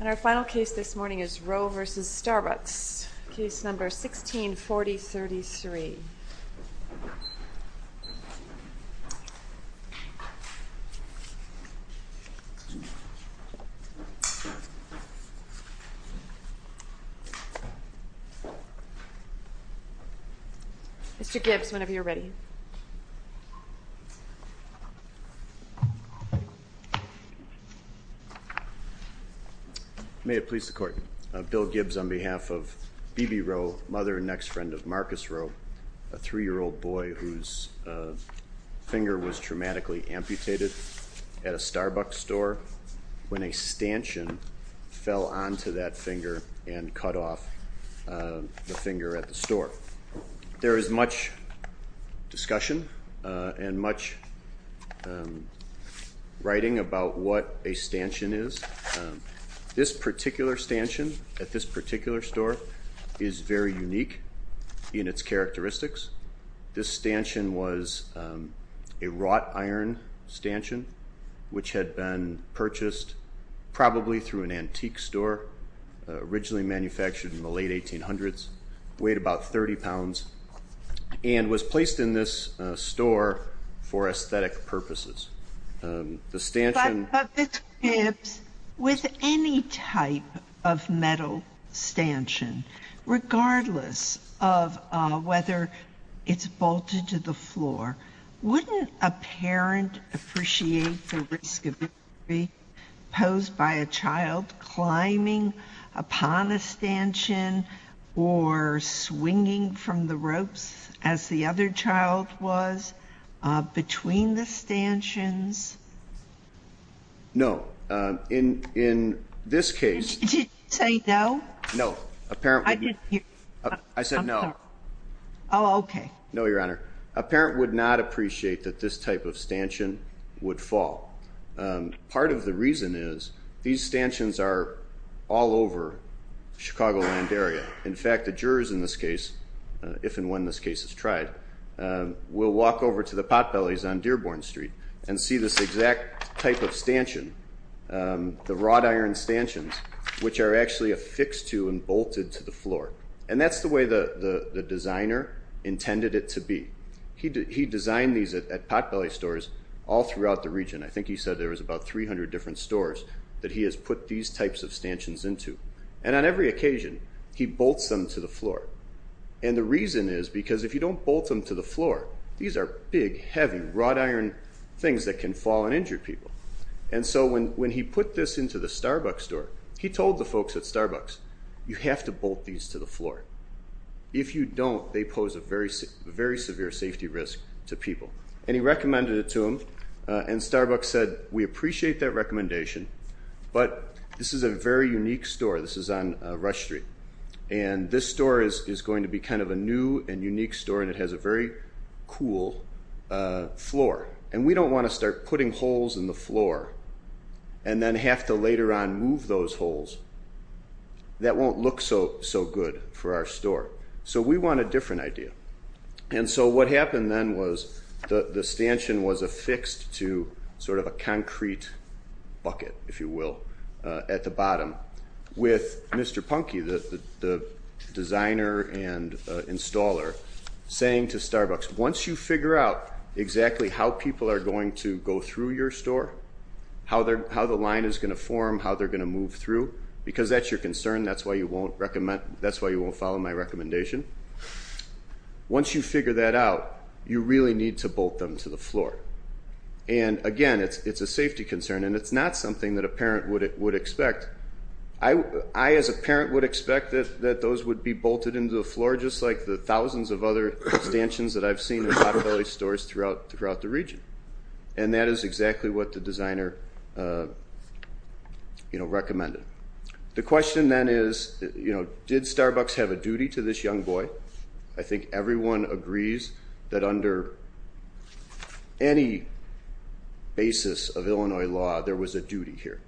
And our final case this morning is Roh v. Starbucks, case number 164033. Mr. Gibbs, whenever you're ready. May it please the Court. Bill Gibbs on behalf of B.B. Roh, mother and next friend of Marcus Roh, a three-year-old boy whose finger was traumatically amputated at a Starbucks store when a stanchion fell onto that finger and cut off the finger at the store. There is much discussion and much writing about what a stanchion is. This particular stanchion at this particular store is very unique in its characteristics. This stanchion was a wrought iron stanchion which had been purchased probably through an antique store originally manufactured in the late 1800s, weighed about 30 pounds, and was placed in this store for aesthetic purposes. But, Mr. Gibbs, with any type of metal stanchion, regardless of whether it's bolted to the floor, wouldn't a parent appreciate the risk of injury posed by a child climbing upon a stanchion or swinging from the ropes as the other child was between the stanchions? No. In this case — Did you say no? No. I said no. Oh, okay. No, Your Honor. A parent would not appreciate that this type of stanchion would fall. Part of the reason is these stanchions are all over the Chicagoland area. In fact, the jurors in this case, if and when this case is tried, will walk over to the potbellies on Dearborn Street and see this exact type of stanchion, the wrought iron stanchions, which are actually affixed to and bolted to the floor. And that's the way the designer intended it to be. He designed these at potbelly stores all throughout the region. I think he said there was about 300 different stores that he has put these types of stanchions into. And on every occasion, he bolts them to the floor. And the reason is because if you don't bolt them to the floor, these are big, heavy wrought iron things that can fall and injure people. And so when he put this into the Starbucks store, he told the folks at Starbucks, you have to bolt these to the floor. If you don't, they pose a very severe safety risk to people. And he recommended it to them. And Starbucks said, we appreciate that recommendation, but this is a very unique store. This is on Rush Street. And this store is going to be kind of a new and unique store, and it has a very cool floor. And we don't want to start putting holes in the floor and then have to later on move those holes. That won't look so good for our store. So we want a different idea. And so what happened then was the stanchion was affixed to sort of a concrete bucket, if you will, at the bottom. With Mr. Punky, the designer and installer, saying to Starbucks, once you figure out exactly how people are going to go through your store, how the line is going to form, how they're going to move through, because that's your concern, that's why you won't follow my recommendation. Once you figure that out, you really need to bolt them to the floor. And, again, it's a safety concern, and it's not something that a parent would expect. I, as a parent, would expect that those would be bolted into the floor just like the thousands of other stanchions that I've seen in Potter Belly stores throughout the region. And that is exactly what the designer recommended. The question then is, did Starbucks have a duty to this young boy? I think everyone agrees that under any basis of Illinois law, there was a duty here,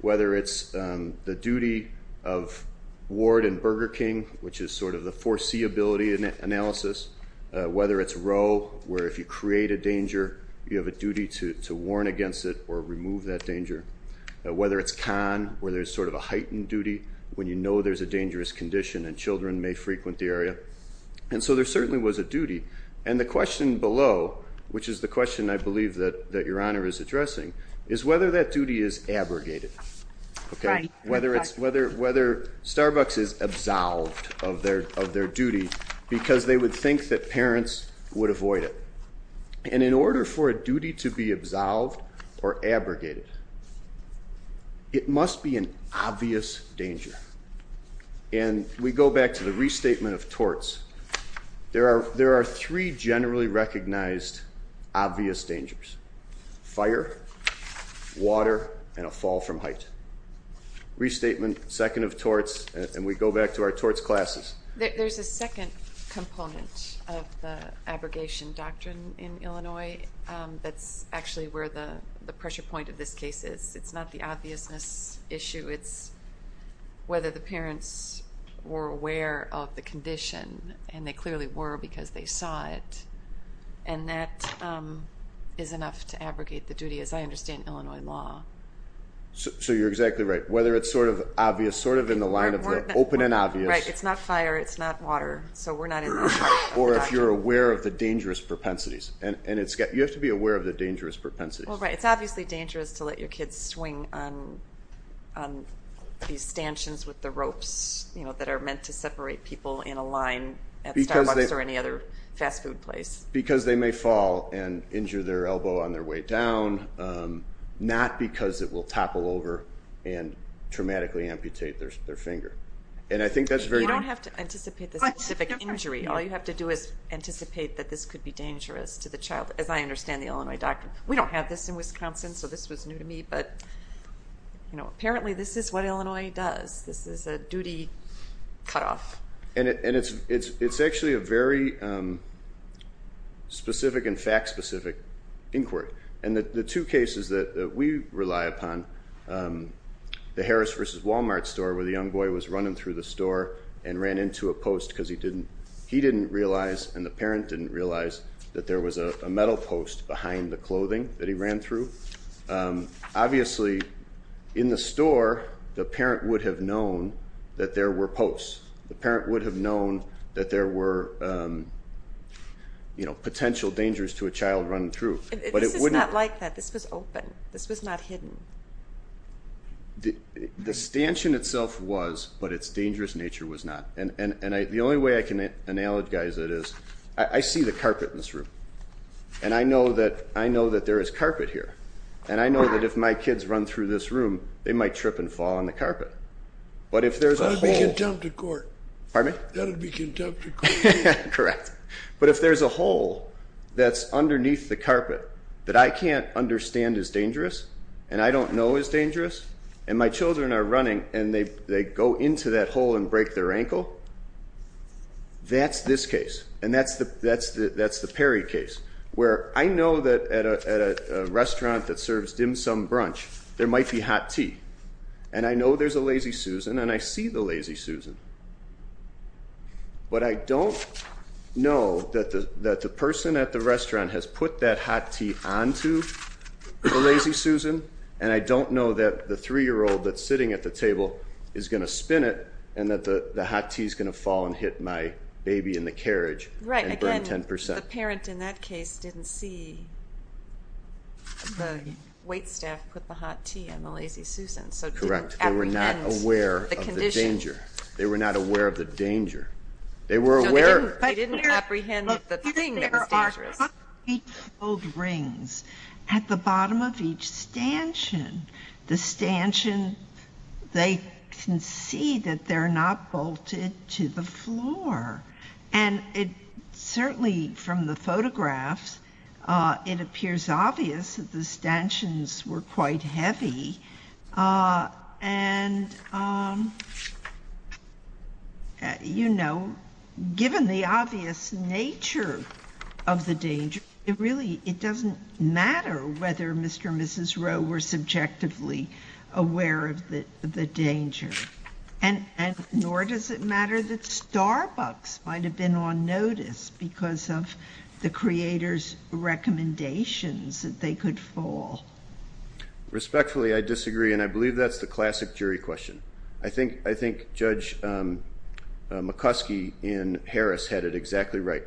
whether it's the duty of Ward and Burger King, which is sort of the foreseeability analysis, whether it's Rowe, where if you create a danger, you have a duty to warn against it or remove that danger, whether it's Kahn, where there's sort of a heightened duty, when you know there's a dangerous condition and children may frequent the area. And so there certainly was a duty. And the question below, which is the question I believe that Your Honor is addressing, is whether that duty is abrogated, whether Starbucks is absolved of their duty because they would think that parents would avoid it. And in order for a duty to be absolved or abrogated, it must be an obvious danger. And we go back to the restatement of torts. There are three generally recognized obvious dangers, fire, water, and a fall from height. Restatement, second of torts, and we go back to our torts classes. There's a second component of the abrogation doctrine in Illinois that's actually where the pressure point of this case is. It's not the obviousness issue. It's whether the parents were aware of the condition, and they clearly were because they saw it. And that is enough to abrogate the duty, as I understand Illinois law. So you're exactly right. Whether it's sort of obvious, sort of in the line of the open and obvious. Right. It's not fire. It's not water. So we're not in the line of the doctrine. Or if you're aware of the dangerous propensities. You have to be aware of the dangerous propensities. It's obviously dangerous to let your kids swing on these stanchions with the ropes that are meant to separate people in a line at Starbucks or any other fast food place. Because they may fall and injure their elbow on their way down, not because it will topple over and traumatically amputate their finger. You don't have to anticipate the specific injury. All you have to do is anticipate that this could be dangerous to the child, as I understand the Illinois doctrine. We don't have this in Wisconsin, so this was new to me. But apparently this is what Illinois does. This is a duty cutoff. And it's actually a very specific and fact-specific inquiry. And the two cases that we rely upon, the Harris v. Walmart store, where the young boy was running through the store and ran into a post because he didn't realize and the parent didn't realize that there was a metal post behind the clothing that he ran through. Obviously, in the store, the parent would have known that there were posts. The parent would have known that there were potential dangers to a child running through. This is not like that. This was open. This was not hidden. The stanchion itself was, but its dangerous nature was not. The only way I can analogize it is I see the carpet in this room, and I know that there is carpet here. And I know that if my kids run through this room, they might trip and fall on the carpet. That would be contempt of court. Pardon me? That would be contempt of court. Correct. But if there's a hole that's underneath the carpet that I can't understand is dangerous and I don't know is dangerous, and my children are running and they go into that hole and break their ankle, that's this case. And that's the Perry case where I know that at a restaurant that serves dim sum brunch, there might be hot tea. And I know there's a Lazy Susan, and I see the Lazy Susan. But I don't know that the person at the restaurant has put that hot tea onto the Lazy Susan, and I don't know that the 3-year-old that's sitting at the table is going to spin it and that the hot tea is going to fall and hit my baby in the carriage and burn 10%. Right. Again, the parent in that case didn't see the waitstaff put the hot tea on the Lazy Susan. So they didn't apprehend the condition. Correct. They were not aware of the danger. They were not aware of the danger. They were aware. They didn't apprehend the thing that was dangerous. At the bottom of each stanchion, the stanchion, they can see that they're not bolted to the floor. And certainly from the photographs, it appears obvious that the stanchions were quite heavy. And, you know, given the obvious nature of the danger, it really doesn't matter whether Mr. and Mrs. Rowe were subjectively aware of the danger. And nor does it matter that Starbucks might have been on notice because of the creator's recommendations that they could fall. Respectfully, I disagree, and I believe that's the classic jury question. I think Judge McCuskey in Harris had it exactly right.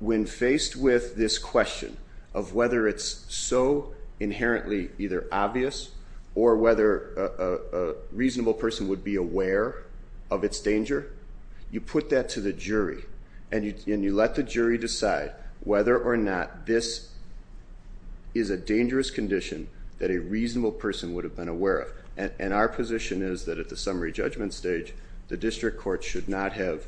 When faced with this question of whether it's so inherently either obvious or whether a reasonable person would be aware of its danger, you put that to the jury and you let the jury decide whether or not this is a dangerous condition that a reasonable person would have been aware of. And our position is that at the summary judgment stage, the district court should not have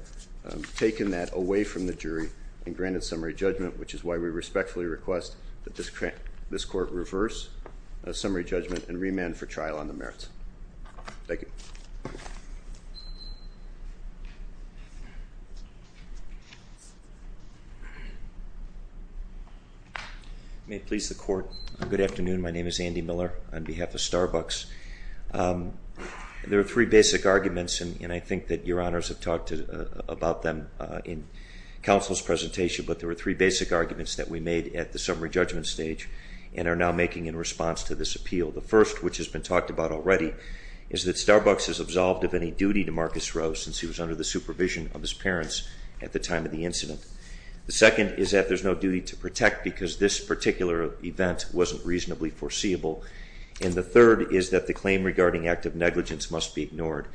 taken that away from the jury and granted summary judgment, which is why we respectfully request that this court reverse a summary judgment and remand for trial on the merits. Thank you. May it please the Court. Good afternoon. My name is Andy Miller on behalf of Starbucks. There are three basic arguments, and I think that Your Honors have talked about them in counsel's presentation, but there are three basic arguments that we made at the summary judgment stage and are now making in response to this appeal. The first, which has been talked about already, is that Starbucks is absolved of any duty to Marcus Rowe since he was under the supervision of his parents at the time of the incident. The second is that there's no duty to protect because this particular event wasn't reasonably foreseeable. And the third is that the claim regarding active negligence must be ignored.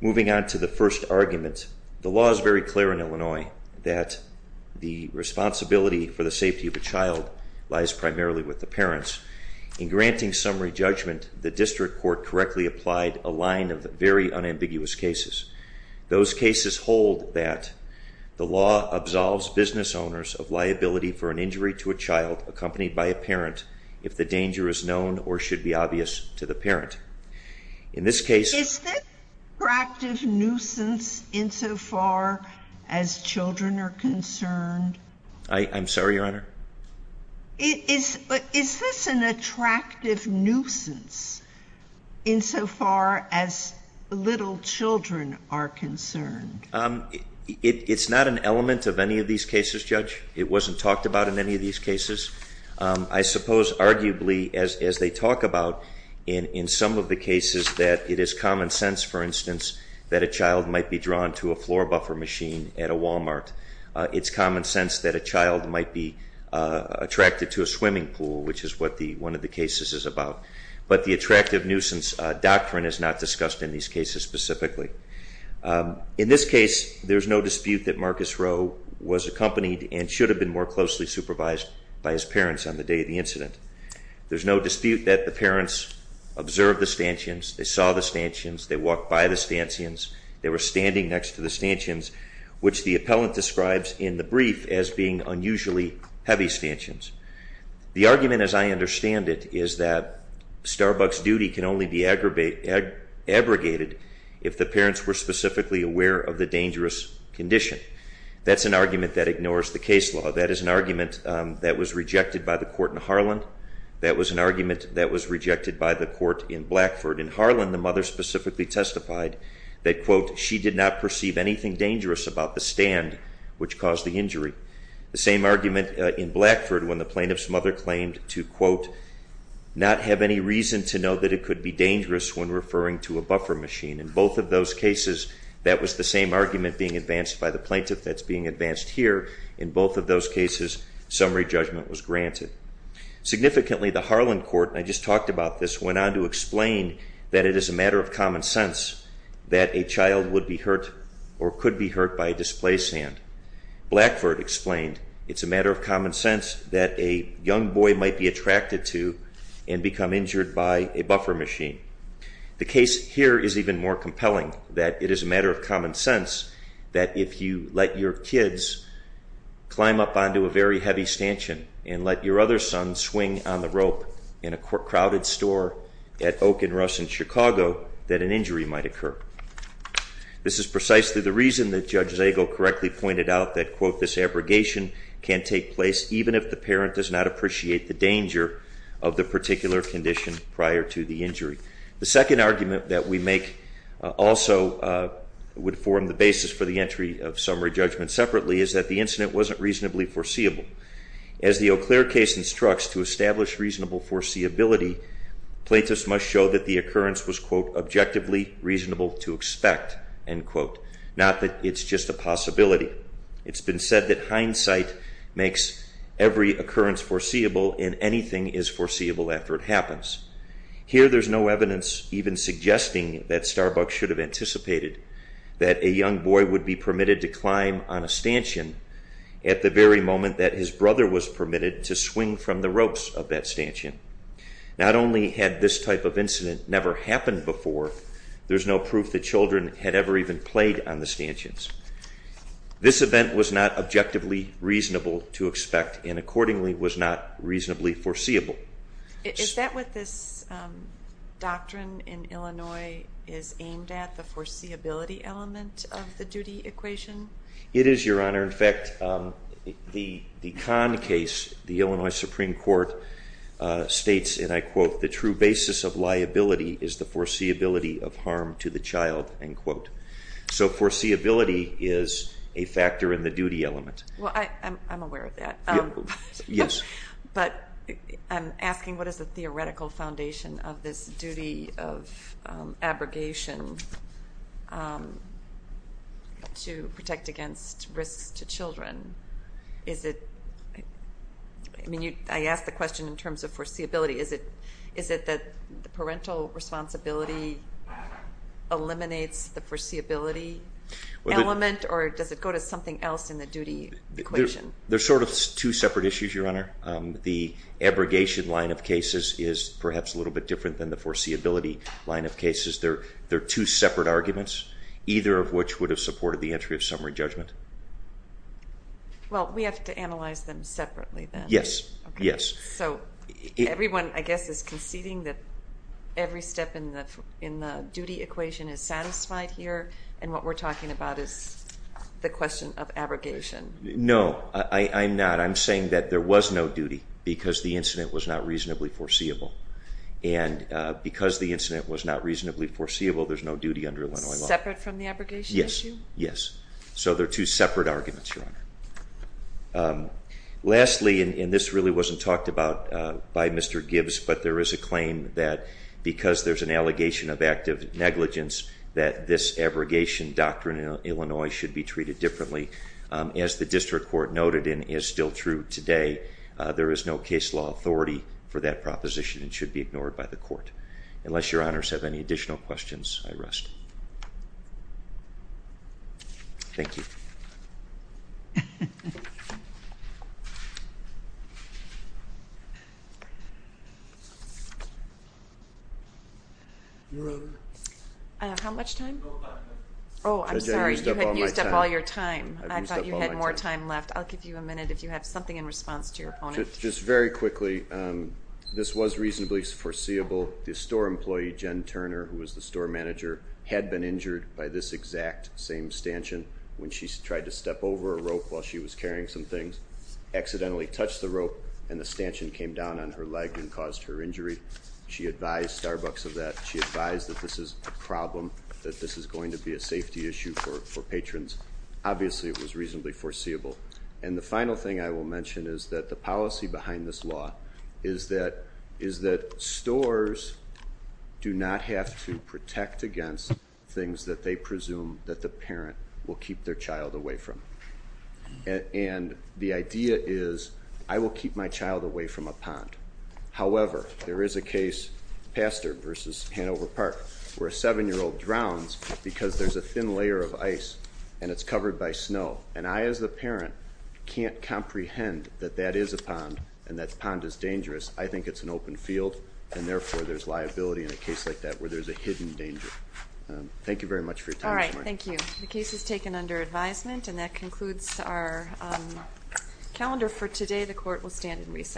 Moving on to the first argument, the law is very clear in Illinois that the responsibility for the safety of a child lies primarily with the parents. In granting summary judgment, the district court correctly applied a line of very unambiguous cases. Those cases hold that the law absolves business owners of liability for an injury to a child accompanied by a parent if the danger is known or should be obvious to the parent. In this case... Is this an attractive nuisance insofar as children are concerned? I'm sorry, Your Honor? Is this an attractive nuisance insofar as little children are concerned? It's not an element of any of these cases, Judge. It wasn't talked about in any of these cases. I suppose arguably, as they talk about in some of the cases, that it is common sense, for instance, that a child might be drawn to a floor buffer machine at a Walmart. It's common sense that a child might be attracted to a swimming pool, which is what one of the cases is about. But the attractive nuisance doctrine is not discussed in these cases specifically. In this case, there's no dispute that Marcus Rowe was accompanied and should have been more closely supervised by his parents on the day of the incident. There's no dispute that the parents observed the stanchions. They saw the stanchions. They were standing next to the stanchions, which the appellant describes in the brief as being unusually heavy stanchions. The argument, as I understand it, is that Starbucks duty can only be abrogated if the parents were specifically aware of the dangerous condition. That's an argument that ignores the case law. That is an argument that was rejected by the court in Harlan. That was an argument that was rejected by the court in Blackford. In Harlan, the mother specifically testified that, quote, she did not perceive anything dangerous about the stand which caused the injury. The same argument in Blackford when the plaintiff's mother claimed to, quote, not have any reason to know that it could be dangerous when referring to a buffer machine. In both of those cases, that was the same argument being advanced by the plaintiff that's being advanced here. In both of those cases, summary judgment was granted. Significantly, the Harlan court, and I just talked about this, went on to explain that it is a matter of common sense that a child would be hurt or could be hurt by a displace hand. Blackford explained it's a matter of common sense that a young boy might be attracted to and become injured by a buffer machine. The case here is even more compelling that it is a matter of common sense that if you let your kids climb up onto a very heavy stanchion and let your other son swing on the rope in a crowded store at Oak and Russ in Chicago, that an injury might occur. This is precisely the reason that Judge Zago correctly pointed out that, quote, this abrogation can take place even if the parent does not appreciate the danger of the particular condition prior to the injury. The second argument that we make also would form the basis for the entry of summary judgment separately is that the incident wasn't reasonably foreseeable. As the Eau Claire case instructs, to establish reasonable foreseeability, plaintiffs must show that the occurrence was, quote, objectively reasonable to expect, end quote, not that it's just a possibility. It's been said that hindsight makes every occurrence foreseeable and anything is foreseeable after it happens. Here there's no evidence even suggesting that Starbucks should have anticipated that a young boy would be permitted to climb on a stanchion at the very moment that his brother was permitted to swing from the ropes of that stanchion. Not only had this type of incident never happened before, there's no proof that children had ever even played on the stanchions. This event was not objectively reasonable to expect and accordingly was not reasonably foreseeable. Is that what this doctrine in Illinois is aimed at, the foreseeability element of the duty equation? It is, Your Honor. In fact, the Kahn case, the Illinois Supreme Court states, and I quote, the true basis of liability is the foreseeability of harm to the child, end quote. So foreseeability is a factor in the duty element. Well, I'm aware of that. Yes. But I'm asking what is the theoretical foundation of this duty of abrogation to protect against risks to children? I mean, I asked the question in terms of foreseeability. Is it that the parental responsibility eliminates the foreseeability element, or does it go to something else in the duty equation? They're sort of two separate issues, Your Honor. The abrogation line of cases is perhaps a little bit different than the foreseeability line of cases. They're two separate arguments, either of which would have supported the entry of summary judgment. Well, we have to analyze them separately then. Yes, yes. So everyone, I guess, is conceding that every step in the duty equation is satisfied here, and what we're talking about is the question of abrogation. No, I'm not. I'm saying that there was no duty because the incident was not reasonably foreseeable, and because the incident was not reasonably foreseeable, there's no duty under Illinois law. Separate from the abrogation issue? Yes, yes. So they're two separate arguments, Your Honor. Lastly, and this really wasn't talked about by Mr. Gibbs, but there is a claim that because there's an allegation of active negligence that this abrogation doctrine in Illinois should be treated differently. As the district court noted and is still true today, there is no case law authority for that proposition and should be ignored by the court. Unless Your Honors have any additional questions, I rest. Thank you. Your Honor. How much time? No time left. Oh, I'm sorry. You had used up all your time. I've used up all my time. I thought you had more time left. I'll give you a minute if you have something in response to your opponent. Just very quickly, this was reasonably foreseeable. The store employee, Jen Turner, who was the store manager, had been injured by this exact same stanchion when she tried to step over a rope while she was carrying some things, accidentally touched the rope, and the stanchion came down on her leg and caused her injury. She advised Starbucks of that. She advised that this is a problem, that this is going to be a safety issue for patrons. Obviously it was reasonably foreseeable. And the final thing I will mention is that the policy behind this law is that stores do not have to protect against things that they presume that the parent will keep their child away from. And the idea is, I will keep my child away from a pond. However, there is a case, Pastor versus Hanover Park, where a 7-year-old drowns because there's a thin layer of ice and it's covered by snow. And I, as the parent, can't comprehend that that is a pond and that the pond is dangerous. I think it's an open field, and therefore there's liability in a case like that where there's a hidden danger. Thank you very much for your time this morning. All right, thank you. The case is taken under advisement, and that concludes our calendar for today. The court will stand and recess.